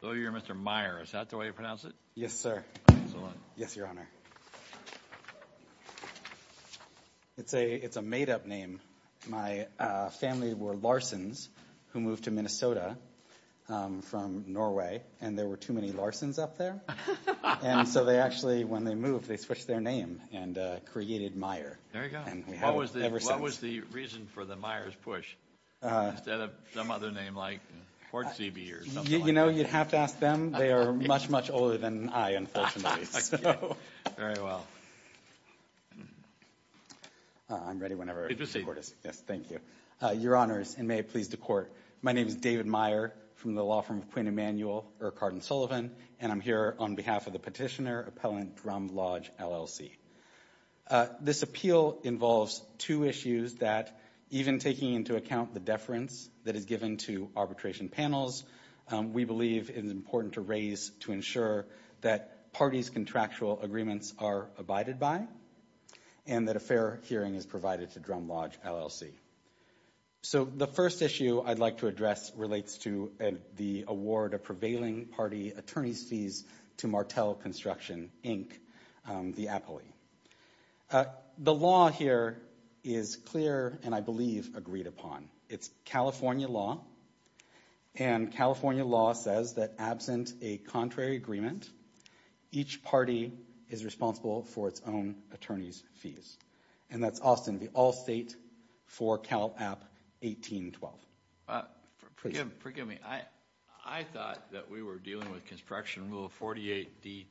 So you're Mr. Meier, is that the way you pronounce it? Yes, sir. Excellent. Yes, Your Honor. It's a made-up name. My family were Larsons who moved to Minnesota from Norway, and there were too many Larsons up there. And so they actually, when they moved, they switched their name and created Meier. There you go. What was the reason for the Meier's push, instead of some other name like Portsebe or something like that? You know, you'd have to ask them. They are much, much older than I, unfortunately. Very well. I'm ready whenever the court is. Yes, thank you. Your Honors, and may it please the Court, my name is David Meier from the law firm of Queen Emanuel Urquhart & Sullivan, and I'm here on behalf of the petitioner, Appellant Drum Lodge, LLC. This appeal involves two issues that, even taking into account the deference that is given to arbitration panels, we believe it is important to raise to ensure that parties' contractual agreements are abided by and that a fair hearing is provided to Drum Lodge, LLC. So the first issue I'd like to address relates to the award of prevailing party attorneys' fees to Martel Construction, Inc., the appellee. The law here is clear and I believe agreed upon. It's California law, and California law says that absent a contrary agreement, each party is responsible for its own attorney's fees. And that's Austin v. Allstate for Cal App 1812. Forgive me. I thought that we were dealing with Construction Rule 48d-2.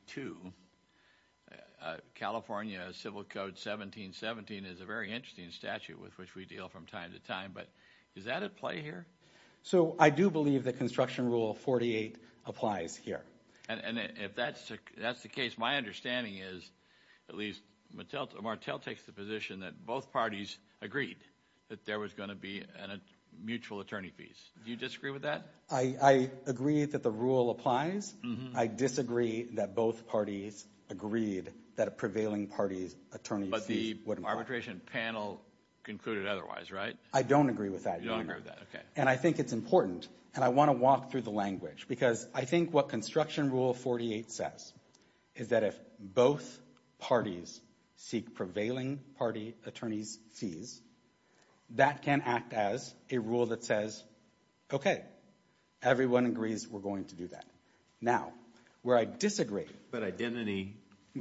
California Civil Code 1717 is a very interesting statute with which we deal from time to time, but is that at play here? So I do believe that Construction Rule 48 applies here. And if that's the case, my understanding is at least Martel takes the position that both parties agreed that there was going to be mutual attorney fees. Do you disagree with that? I agree that the rule applies. I disagree that both parties agreed that a prevailing party's attorney fees wouldn't apply. But the arbitration panel concluded otherwise, right? I don't agree with that either. You don't agree with that, okay. And I think it's important, and I want to walk through the language, because I think what Construction Rule 48 says is that if both parties seek prevailing party attorneys' fees, that can act as a rule that says, okay, everyone agrees we're going to do that. Now, where I disagree. But identity,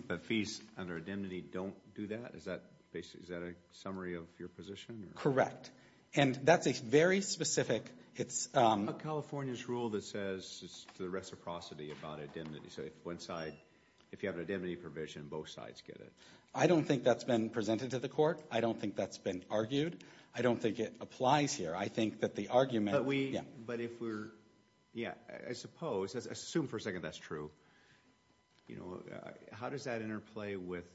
the fees under identity don't do that? Is that a summary of your position? Correct. And that's a very specific. It's a California's rule that says it's the reciprocity about identity. So if one side, if you have an identity provision, both sides get it. I don't think that's been presented to the court. I don't think that's been argued. I don't think it applies here. I think that the argument. But if we're, yeah, I suppose, assume for a second that's true. How does that interplay with,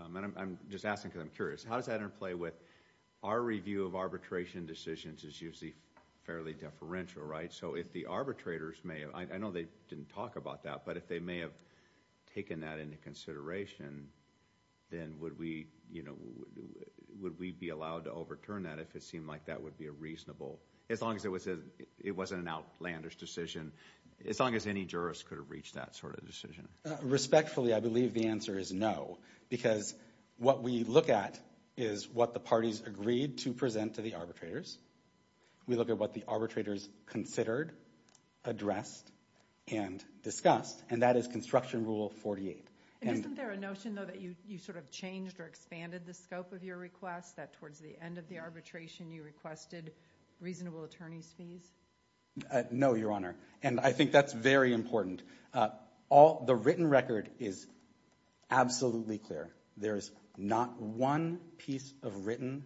and I'm just asking because I'm curious, how does that interplay with our review of arbitration decisions is usually fairly deferential, right? So if the arbitrators may have, I know they didn't talk about that, but if they may have taken that into consideration, then would we, you know, would we be allowed to overturn that if it seemed like that would be a reasonable, as long as it wasn't an outlandish decision, as long as any jurist could have reached that sort of decision? Respectfully, I believe the answer is no. Because what we look at is what the parties agreed to present to the arbitrators. We look at what the arbitrators considered, addressed, and discussed. And that is construction rule 48. Isn't there a notion, though, that you sort of changed or expanded the scope of your request, that towards the end of the arbitration you requested reasonable attorney's fees? No, Your Honor. And I think that's very important. The written record is absolutely clear. There is not one piece of written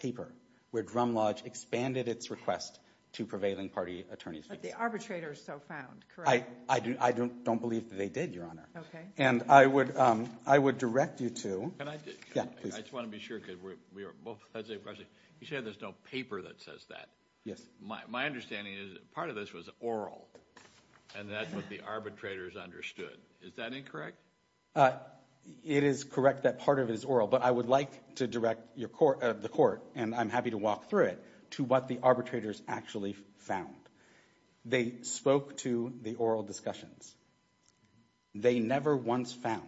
paper where Drum Lodge expanded its request to prevailing party attorney's fees. But the arbitrators so found, correct? I don't believe that they did, Your Honor. Okay. And I would direct you to – Can I just – Yeah, please. I just want to be sure because we are both – you said there's no paper that says that. Yes. My understanding is part of this was oral, and that's what the arbitrators understood. Is that incorrect? It is correct that part of it is oral. But I would like to direct the court, and I'm happy to walk through it, to what the arbitrators actually found. They spoke to the oral discussions. They never once found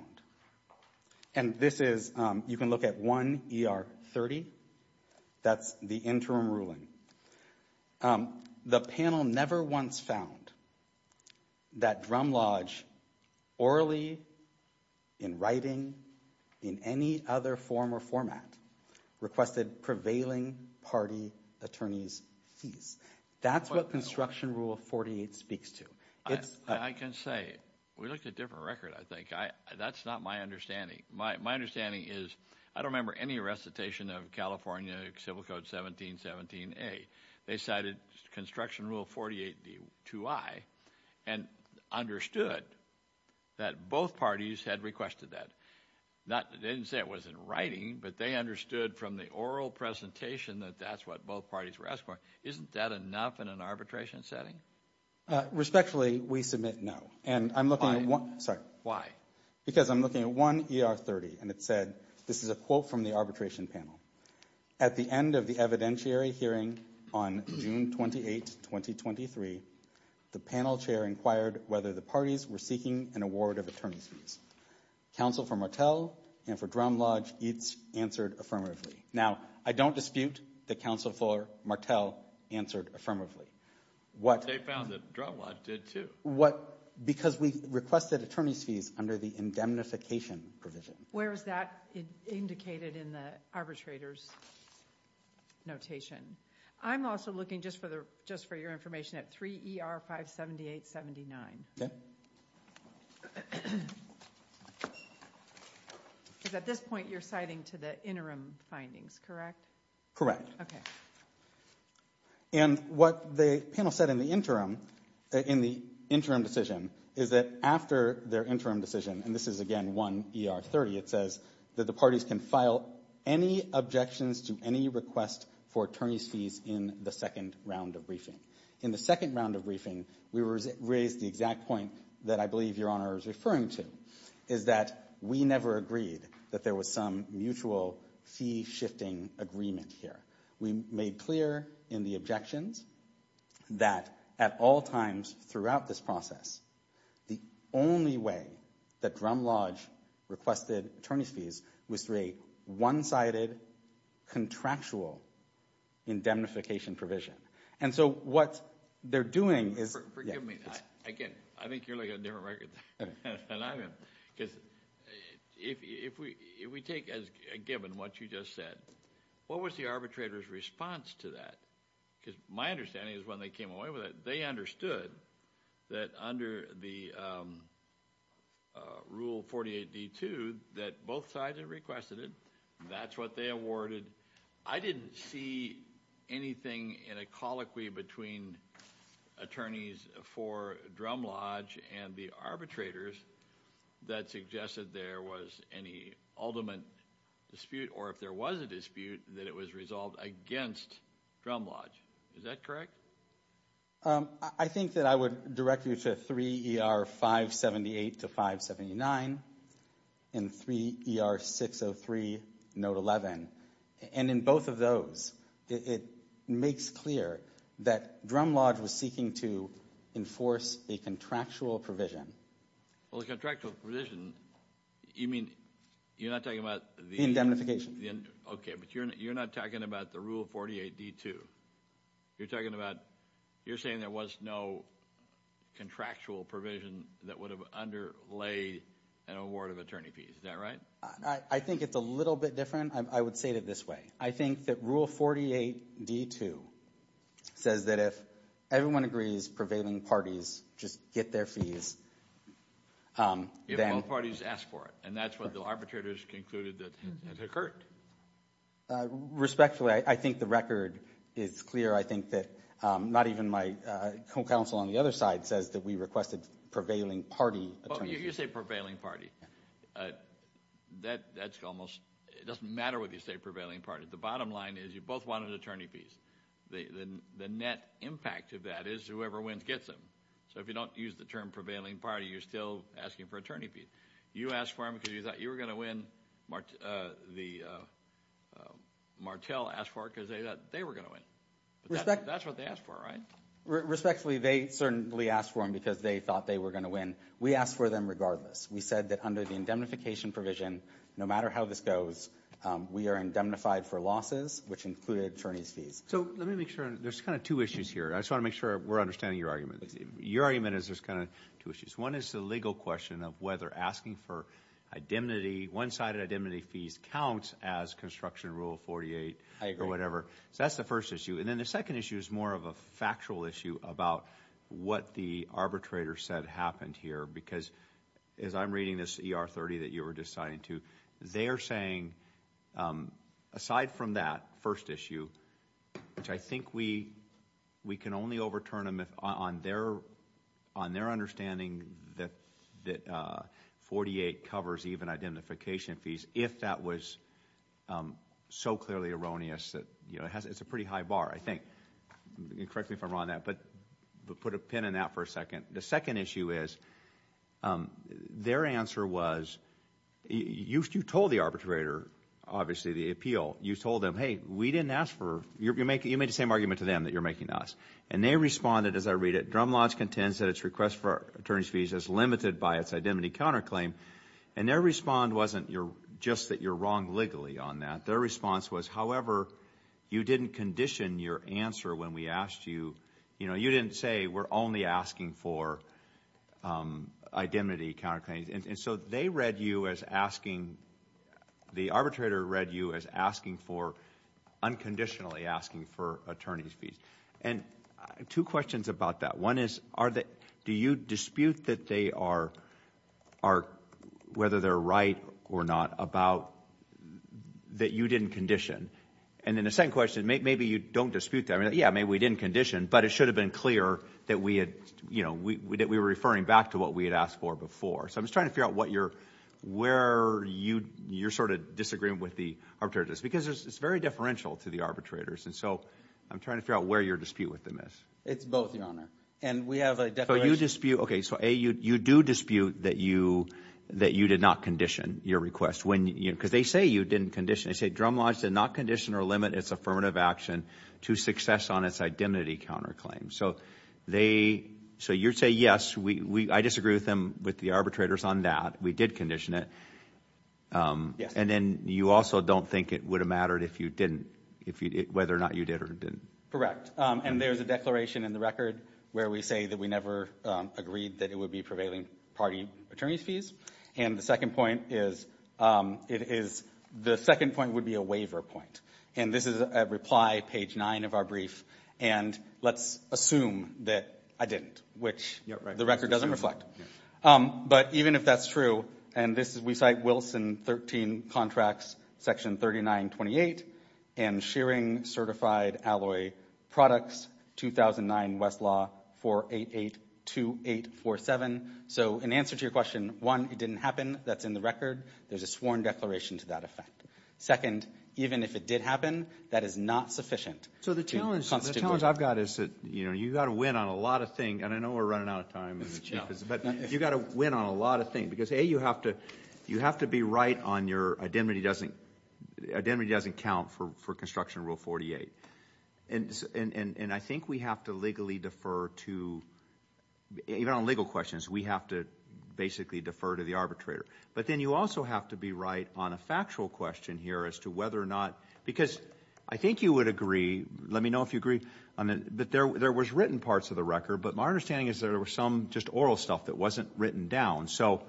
– and this is – you can look at 1 ER 30. That's the interim ruling. The panel never once found that Drum Lodge, orally, in writing, in any other form or format, requested prevailing party attorney's fees. That's what Construction Rule 48 speaks to. I can say – we looked at a different record, I think. That's not my understanding. My understanding is I don't remember any recitation of California Civil Code 1717 A. They cited Construction Rule 48 2I and understood that both parties had requested that. They didn't say it was in writing, but they understood from the oral presentation that that's what both parties were asking for. Isn't that enough in an arbitration setting? Respectfully, we submit no. And I'm looking at one – Why? Because I'm looking at 1 ER 30, and it said – this is a quote from the arbitration panel. At the end of the evidentiary hearing on June 28, 2023, the panel chair inquired whether the parties were seeking an award of attorney's fees. Counsel for Martel and for Drum Lodge answered affirmatively. Now, I don't dispute that Counsel for Martel answered affirmatively. They found that Drum Lodge did, too. Because we requested attorney's fees under the indemnification provision. Where is that indicated in the arbitrator's notation? I'm also looking, just for your information, at 3 ER 578-79. Because at this point, you're citing to the interim findings, correct? Correct. Okay. And what the panel said in the interim, in the interim decision, is that after their interim decision – and this is, again, 1 ER 30 – it says that the parties can file any objections to any request for attorney's fees in the second round of briefing. In the second round of briefing, we raised the exact point that I believe Your Honor is referring to, is that we never agreed that there was some mutual fee-shifting agreement here. We made clear in the objections that at all times throughout this process, the only way that Drum Lodge requested attorney's fees was through a one-sided contractual indemnification provision. And so what they're doing is – Forgive me. Again, I think you're like a different record than I am. Because if we take as given what you just said, what was the arbitrator's response to that? Because my understanding is when they came away with it, they understood that under the Rule 48d-2 that both sides had requested it. That's what they awarded. I didn't see anything in a colloquy between attorneys for Drum Lodge and the arbitrators that suggested there was any ultimate dispute or if there was a dispute, that it was resolved against Drum Lodge. Is that correct? I think that I would direct you to 3 ER 578 to 579 and 3 ER 603, note 11. And in both of those, it makes clear that Drum Lodge was seeking to enforce a contractual provision. Well, a contractual provision, you mean you're not talking about the indemnification? Okay, but you're not talking about the Rule 48d-2. You're talking about – you're saying there was no contractual provision that would have underlay an award of attorney fees. Is that right? I think it's a little bit different. I would say it this way. I think that Rule 48d-2 says that if everyone agrees prevailing parties just get their fees. If both parties ask for it. And that's what the arbitrators concluded that occurred. Respectfully, I think the record is clear. I think that not even my co-counsel on the other side says that we requested prevailing party attorney fees. Well, you say prevailing party. That's almost – it doesn't matter what you say prevailing party. The bottom line is you both wanted attorney fees. The net impact of that is whoever wins gets them. So if you don't use the term prevailing party, you're still asking for attorney fees. You asked for them because you thought you were going to win. Martel asked for it because they thought they were going to win. That's what they asked for, right? Respectfully, they certainly asked for them because they thought they were going to win. We asked for them regardless. We said that under the indemnification provision, no matter how this goes, we are indemnified for losses, which included attorney fees. So let me make sure – there's kind of two issues here. I just want to make sure we're understanding your argument. Your argument is there's kind of two issues. One is the legal question of whether asking for indemnity, one-sided indemnity fees counts as construction rule 48 or whatever. So that's the first issue. And then the second issue is more of a factual issue about what the arbitrator said happened here because as I'm reading this ER30 that you were deciding to, they are saying aside from that first issue, which I think we can only overturn on their understanding that 48 covers even identification fees if that was so clearly erroneous. It's a pretty high bar, I think. Correct me if I'm wrong on that, but put a pin in that for a second. The second issue is their answer was – you told the arbitrator, obviously, the appeal. You told them, hey, we didn't ask for – you made the same argument to them that you're making us. And they responded, as I read it, Drum Lodge contends that its request for attorney fees is limited by its indemnity counterclaim. And their response wasn't just that you're wrong legally on that. Their response was, however, you didn't condition your answer when we asked you. You didn't say we're only asking for indemnity counterclaims. And so they read you as asking – the arbitrator read you as asking for – unconditionally asking for attorney fees. And two questions about that. One is, do you dispute that they are – whether they're right or not about that you didn't condition? And then the second question, maybe you don't dispute that. Yeah, maybe we didn't condition, but it should have been clear that we had – that we were referring back to what we had asked for before. So I'm just trying to figure out what you're – where you're sort of disagreeing with the arbitrators. Because it's very differential to the arbitrators. And so I'm trying to figure out where your dispute with them is. It's both, Your Honor. And we have a declaration – So you dispute – okay, so A, you do dispute that you did not condition your request. Because they say you didn't condition. They say Drum Lodge did not condition or limit its affirmative action to success on its indemnity counterclaim. So they – so you say, yes, I disagree with them, with the arbitrators on that. We did condition it. Yes. And then you also don't think it would have mattered if you didn't – whether or not you did or didn't. Correct. And there's a declaration in the record where we say that we never agreed that it would be prevailing party attorney's fees. And the second point is – it is – the second point would be a waiver point. And this is at reply, page 9 of our brief. And let's assume that I didn't, which the record doesn't reflect. But even if that's true – and this is – we cite Wilson 13 Contracts, Section 3928, and Shearing Certified Alloy Products, 2009 Westlaw 4882847. So in answer to your question, one, it didn't happen. That's in the record. There's a sworn declaration to that effect. Second, even if it did happen, that is not sufficient. So the challenge I've got is that you've got to win on a lot of things. And I know we're running out of time. But you've got to win on a lot of things. Because, A, you have to be right on your – identity doesn't count for construction rule 48. And I think we have to legally defer to – even on legal questions, we have to basically defer to the arbitrator. But then you also have to be right on a factual question here as to whether or not – because I think you would agree – let me know if you agree – that there was written parts of the record. But my understanding is there was some just oral stuff that wasn't written down. So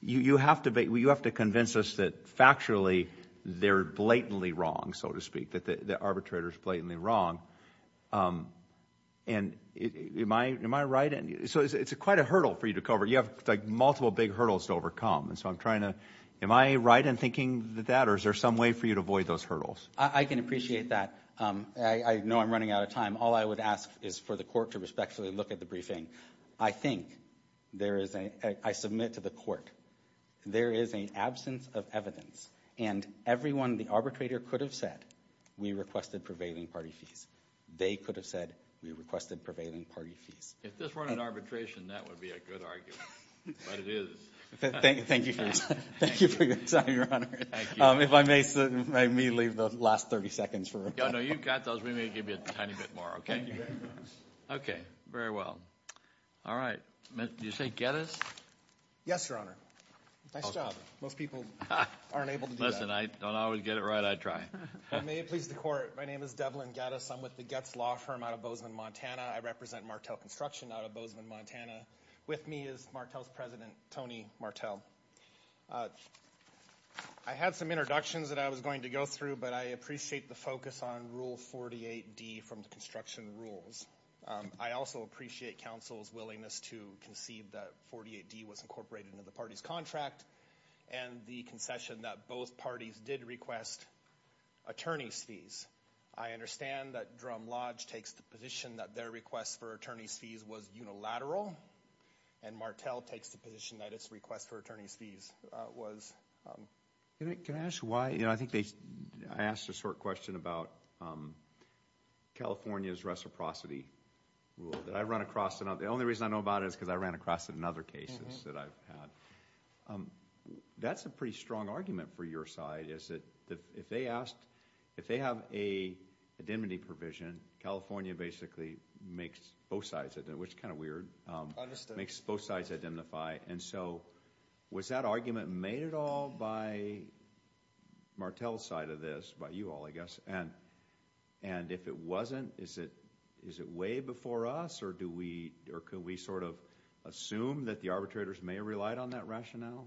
you have to convince us that factually they're blatantly wrong, so to speak, that the arbitrator is blatantly wrong. And am I right? So it's quite a hurdle for you to cover. You have, like, multiple big hurdles to overcome. And so I'm trying to – am I right in thinking that? Or is there some way for you to avoid those hurdles? I can appreciate that. I know I'm running out of time. All I would ask is for the court to respectfully look at the briefing. I think there is a – I submit to the court there is an absence of evidence. And everyone, the arbitrator, could have said we requested prevailing party fees. They could have said we requested prevailing party fees. If this weren't an arbitration, that would be a good argument. But it is. Thank you for your time, Your Honor. Thank you. If I may, sir, may we leave the last 30 seconds for – No, no, you've got those. We may give you a tiny bit more, okay? Okay. Very well. All right. Did you say Geddes? Yes, Your Honor. Nice job. Most people aren't able to do that. Listen, I don't always get it right. I try. And may it please the court, my name is Devlin Geddes. I'm with the Getz Law Firm out of Bozeman, Montana. I represent Martel Construction out of Bozeman, Montana. With me is Martel's president, Tony Martel. I had some introductions that I was going to go through, but I appreciate the focus on Rule 48D from the construction rules. I also appreciate counsel's willingness to conceive that 48D was incorporated into the party's contract and the concession that both parties did request attorney's fees. I understand that Drum Lodge takes the position that their request for attorney's fees was unilateral, and Martel takes the position that its request for attorney's fees was. Can I ask why? I think they – I asked a short question about California's reciprocity rule that I run across. The only reason I know about it is because I ran across it in other cases that I've had. That's a pretty strong argument for your side, is that if they asked – if they have a indemnity provision, California basically makes both sides – which is kind of weird – makes both sides indemnify. And so was that argument made at all by Martel's side of this, by you all, I guess? And if it wasn't, is it way before us, or do we – or could we sort of assume that the arbitrators may have relied on that rationale?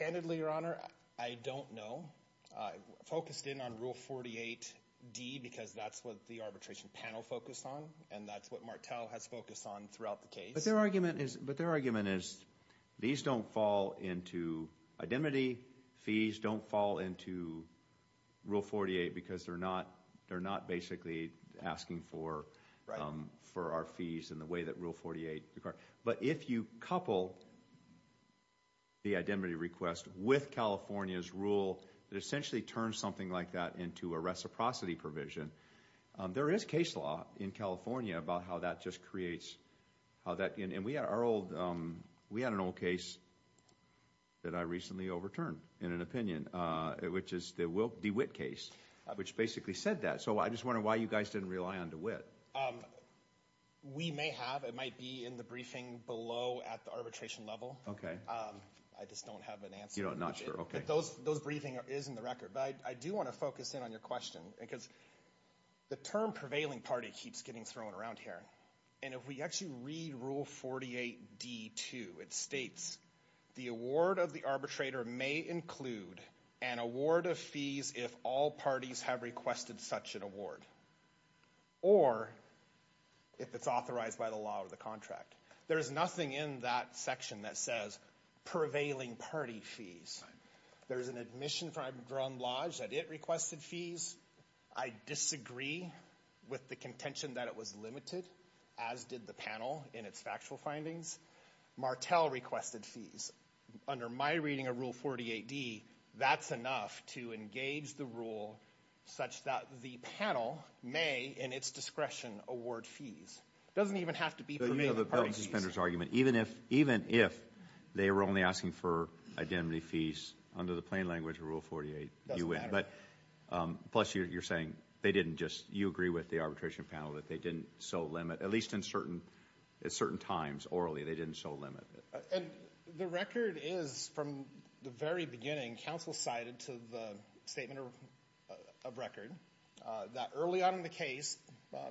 Candidly, Your Honor, I don't know. I focused in on Rule 48d because that's what the arbitration panel focused on, and that's what Martel has focused on throughout the case. But their argument is – but their argument is these don't fall into – indemnity fees don't fall into Rule 48 because they're not – they're not basically asking for our fees in the way that Rule 48 – but if you couple the indemnity request with California's rule, it essentially turns something like that into a reciprocity provision. There is case law in California about how that just creates – how that – and we had our old – we had an old case that I recently overturned in an opinion, which is the DeWitt case, which basically said that. So I just wonder why you guys didn't rely on DeWitt. We may have. It might be in the briefing below at the arbitration level. I just don't have an answer. You're not sure? Okay. Those briefings is in the record. But I do want to focus in on your question because the term prevailing party keeps getting thrown around here. And if we actually read Rule 48d-2, it states, the award of the arbitrator may include an award of fees if all parties have requested such an award or if it's authorized by the law or the contract. There is nothing in that section that says prevailing party fees. There is an admission from Drum Lodge that it requested fees. I disagree with the contention that it was limited, as did the panel in its factual findings. Martel requested fees. Under my reading of Rule 48d, that's enough to engage the rule such that the panel may, in its discretion, award fees. It doesn't even have to be prevailing party fees. You know, that was the suspender's argument. Even if they were only asking for identity fees, under the plain language of Rule 48, you win. It doesn't matter. Plus, you're saying they didn't just— you agree with the arbitration panel that they didn't so limit, at least in certain times, orally, they didn't so limit. And the record is, from the very beginning, when counsel cited to the statement of record, that early on in the case,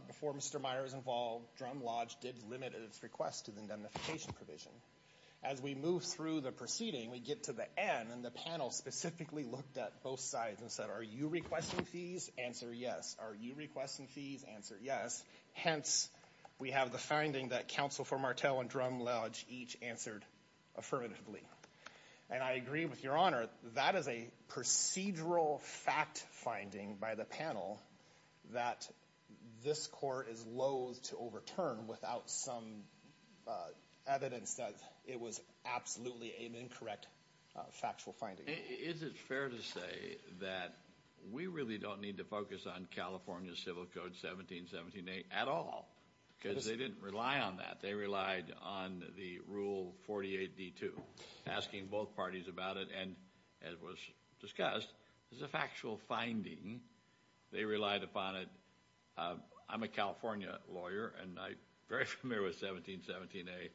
before Mr. Meyer was involved, Drum Lodge did limit its request to the indemnification provision. As we move through the proceeding, we get to the end, and the panel specifically looked at both sides and said, are you requesting fees? Answer yes. Are you requesting fees? Answer yes. Hence, we have the finding that counsel for Martel and Drum Lodge each answered affirmatively. And I agree with Your Honor, that is a procedural fact-finding by the panel that this court is loathe to overturn without some evidence that it was absolutely an incorrect factual finding. Is it fair to say that we really don't need to focus on California Civil Code 1778 at all? Because they didn't rely on that. Asking both parties about it, and as was discussed, it's a factual finding. They relied upon it. I'm a California lawyer, and I'm very familiar with 1717A.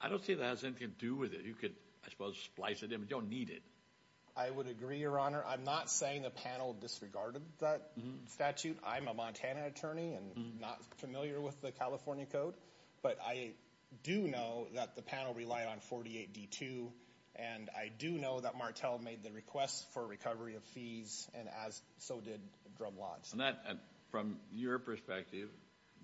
I don't see that has anything to do with it. You could, I suppose, splice it in, but you don't need it. I would agree, Your Honor. I'm not saying the panel disregarded that statute. I'm a Montana attorney and not familiar with the California Code. But I do know that the panel relied on 48D2, and I do know that Martel made the request for recovery of fees, and so did Drum Lodge. And from your perspective,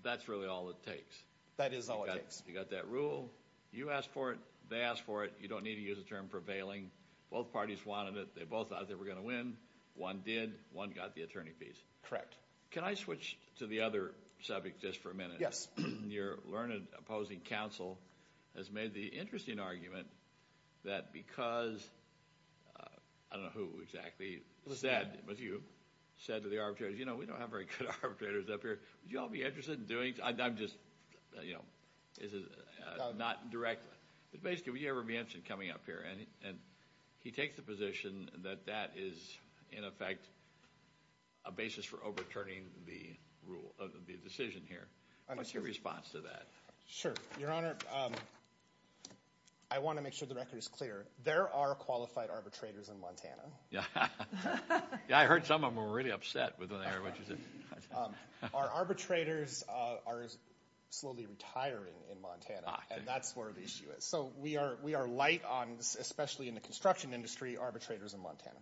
that's really all it takes. That is all it takes. You got that rule. You asked for it. They asked for it. You don't need to use the term prevailing. Both parties wanted it. They both thought they were going to win. One did. One got the attorney fees. Correct. Can I switch to the other subject just for a minute? Yes. Your learned opposing counsel has made the interesting argument that because, I don't know who exactly said, but you, said to the arbitrators, you know, we don't have very good arbitrators up here. Would you all be interested in doing it? I'm just, you know, not directly. But basically, would you ever be interested in coming up here? And he takes the position that that is, in effect, a basis for overturning the decision here. What's your response to that? Sure. Your Honor, I want to make sure the record is clear. There are qualified arbitrators in Montana. Yeah. I heard some of them were really upset when they heard what you said. Our arbitrators are slowly retiring in Montana, and that's where the issue is. So we are light on, especially in the construction industry, arbitrators in Montana.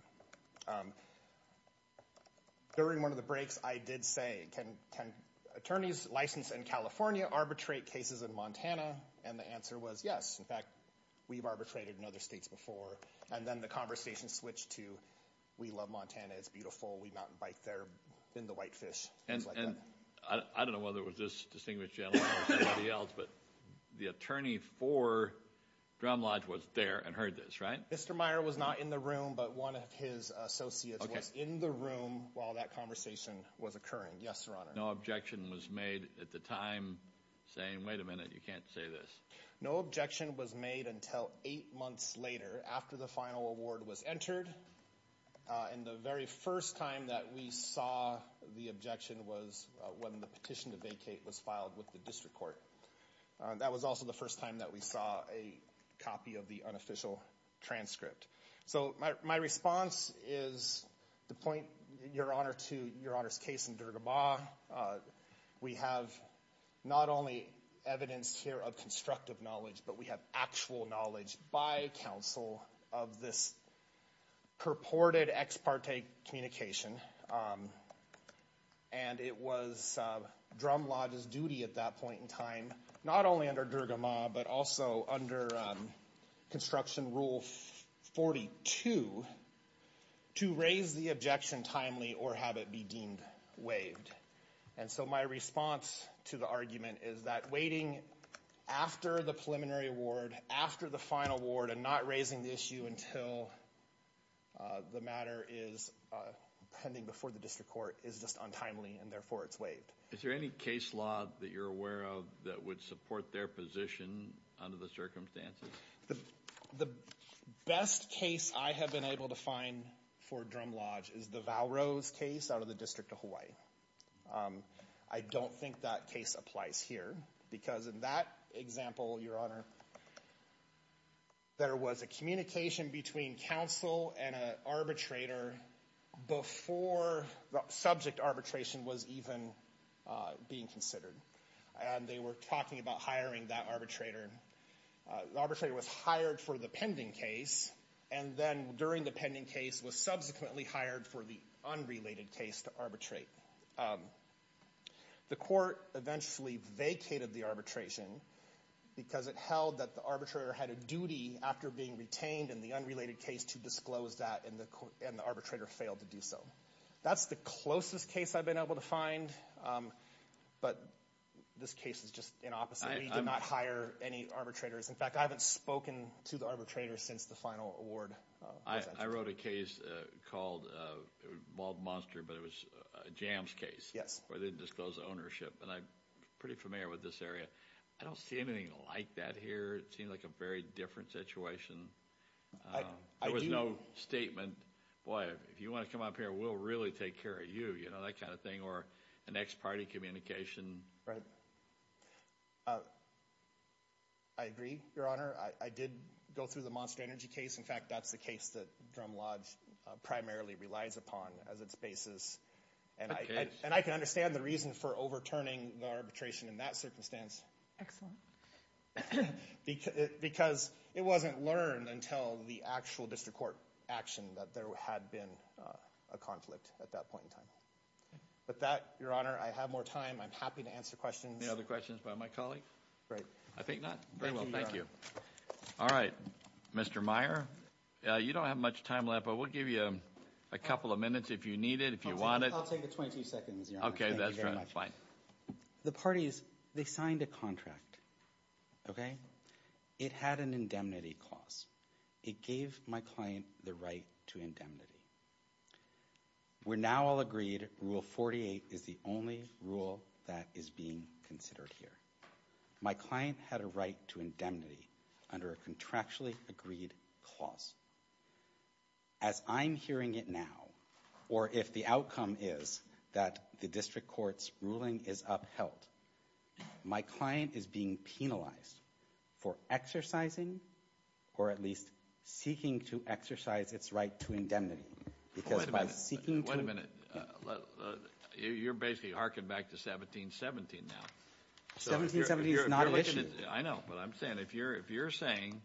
During one of the breaks, I did say, can attorneys licensed in California arbitrate cases in Montana? And the answer was yes. In fact, we've arbitrated in other states before. And then the conversation switched to we love Montana, it's beautiful, we mountain bike there, been to Whitefish. And I don't know whether it was this distinguished gentleman or somebody else, but the attorney for Drum Lodge was there and heard this, right? Mr. Meyer was not in the room, but one of his associates was in the room while that conversation was occurring. Yes, Your Honor. No objection was made at the time saying, wait a minute, you can't say this. No objection was made until eight months later, after the final award was entered. And the very first time that we saw the objection was when the petition to vacate was filed with the district court. That was also the first time that we saw a copy of the unofficial transcript. So my response is to point Your Honor to Your Honor's case in Durga Ma. We have not only evidence here of constructive knowledge, but we have actual knowledge by counsel of this purported ex parte communication. And it was Drum Lodge's duty at that point in time, not only under Durga Ma, but also under construction rule 42, to raise the objection timely or have it be deemed waived. And so my response to the argument is that waiting after the preliminary award, after the final award, and not raising the issue until the matter is pending before the district court is just untimely and therefore it's waived. Is there any case law that you're aware of that would support their position under the circumstances? The best case I have been able to find for Drum Lodge is the Valrose case out of the District of Hawaii. I don't think that case applies here because in that example, Your Honor, there was a communication between counsel and an arbitrator before the subject arbitration was even being considered. And they were talking about hiring that arbitrator. The arbitrator was hired for the pending case, and then during the pending case was subsequently hired for the unrelated case to arbitrate. The court eventually vacated the arbitration because it held that the arbitrator had a duty after being retained in the unrelated case to disclose that, and the arbitrator failed to do so. That's the closest case I've been able to find, but this case is just an opposite. We did not hire any arbitrators. In fact, I haven't spoken to the arbitrator since the final award. I wrote a case called Mald Monster, but it was a jams case. Yes. Where they didn't disclose ownership. And I'm pretty familiar with this area. I don't see anything like that here. It seems like a very different situation. There was no statement. Boy, if you want to come up here, we'll really take care of you. You know, that kind of thing. Or an ex-party communication. Right. I agree, Your Honor. I did go through the Monster Energy case. In fact, that's the case that Drum Lodge primarily relies upon as its basis. And I can understand the reason for overturning the arbitration in that circumstance. Excellent. Because it wasn't learned until the actual district court action that there had been a conflict at that point in time. With that, Your Honor, I have more time. I'm happy to answer questions. Any other questions by my colleagues? I think not. Very well. Thank you. All right. Mr. Meyer, you don't have much time left, but we'll give you a couple of minutes if you need it, if you want it. I'll take the 22 seconds, Your Honor. Okay. That's fine. The parties, they signed a contract, okay? It had an indemnity clause. It gave my client the right to indemnity. We're now all agreed Rule 48 is the only rule that is being considered here. My client had a right to indemnity under a contractually agreed clause. As I'm hearing it now, or if the outcome is that the district court's ruling is upheld, my client is being penalized for exercising or at least seeking to exercise its right to indemnity. Wait a minute. You're basically harking back to 1717 now. 1717 is not an issue. I know, but I'm saying if you're saying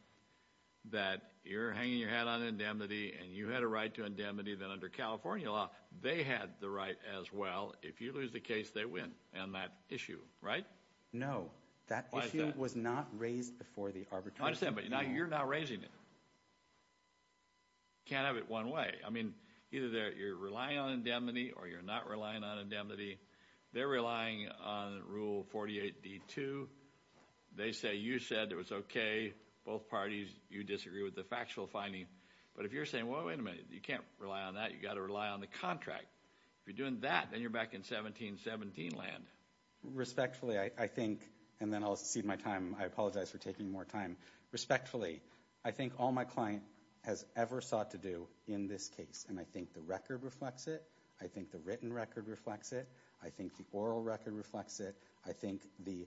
that you're hanging your head on indemnity and you had a right to indemnity then under California law, they had the right as well. If you lose the case, they win on that issue, right? No. Why is that? That issue was not raised before the arbitration. I understand, but you're not raising it. You can't have it one way. I mean, either you're relying on indemnity or you're not relying on indemnity. They're relying on Rule 48d-2. They say you said it was okay. Both parties, you disagree with the factual finding. But if you're saying, wait a minute, you can't rely on that. You've got to rely on the contract. If you're doing that, then you're back in 1717 land. Respectfully, I think, and then I'll cede my time. I apologize for taking more time. Respectfully, I think all my client has ever sought to do in this case, and I think the record reflects it. I think the written record reflects it. I think the oral record reflects it. I think the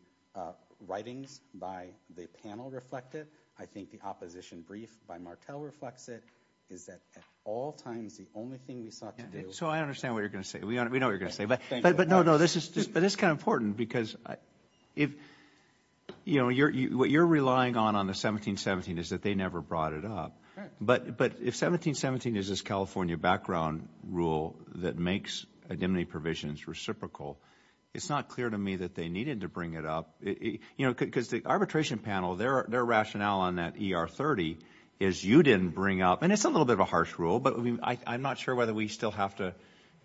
writings by the panel reflect it. I think the opposition brief by Martel reflects it. Is that at all times the only thing we sought to do? So I understand what you're going to say. We know what you're going to say. But no, no, this is kind of important because, you know, what you're relying on on the 1717 is that they never brought it up. But if 1717 is this California background rule that makes indemnity provisions reciprocal, it's not clear to me that they needed to bring it up. You know, because the arbitration panel, their rationale on that ER30 is you didn't bring up, and it's a little bit of a harsh rule, but I'm not sure whether we still have to,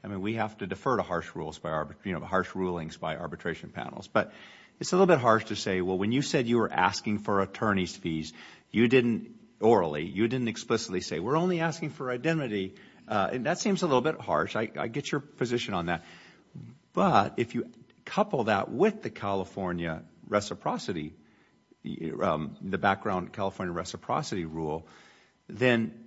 I mean, we have to defer to harsh rulings by arbitration panels. But it's a little bit harsh to say, well, when you said you were asking for attorney's fees, you didn't orally, you didn't explicitly say, we're only asking for identity. That seems a little bit harsh. I get your position on that. But if you couple that with the California reciprocity, the background California reciprocity rule, then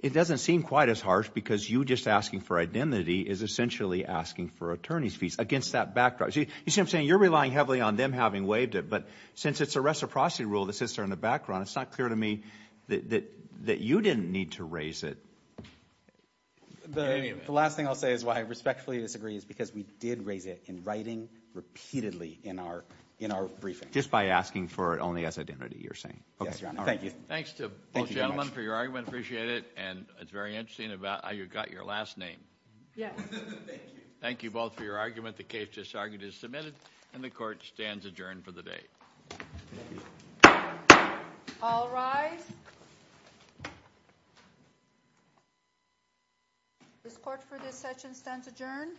it doesn't seem quite as harsh because you just asking for identity is essentially asking for attorney's fees against that backdrop. You see what I'm saying? You're relying heavily on them having waived it. But since it's a reciprocity rule that sits there in the background, it's not clear to me that you didn't need to raise it. The last thing I'll say is why I respectfully disagree is because we did raise it in writing repeatedly in our briefing. Just by asking for it only as identity, you're saying. Yes, Your Honor. Thank you. Thanks to both gentlemen for your argument. Appreciate it. And it's very interesting about how you got your last name. Yes. Thank you. Thank you both for your argument. The case just argued is submitted, and the court stands adjourned for the day. All rise. This court for this session stands adjourned.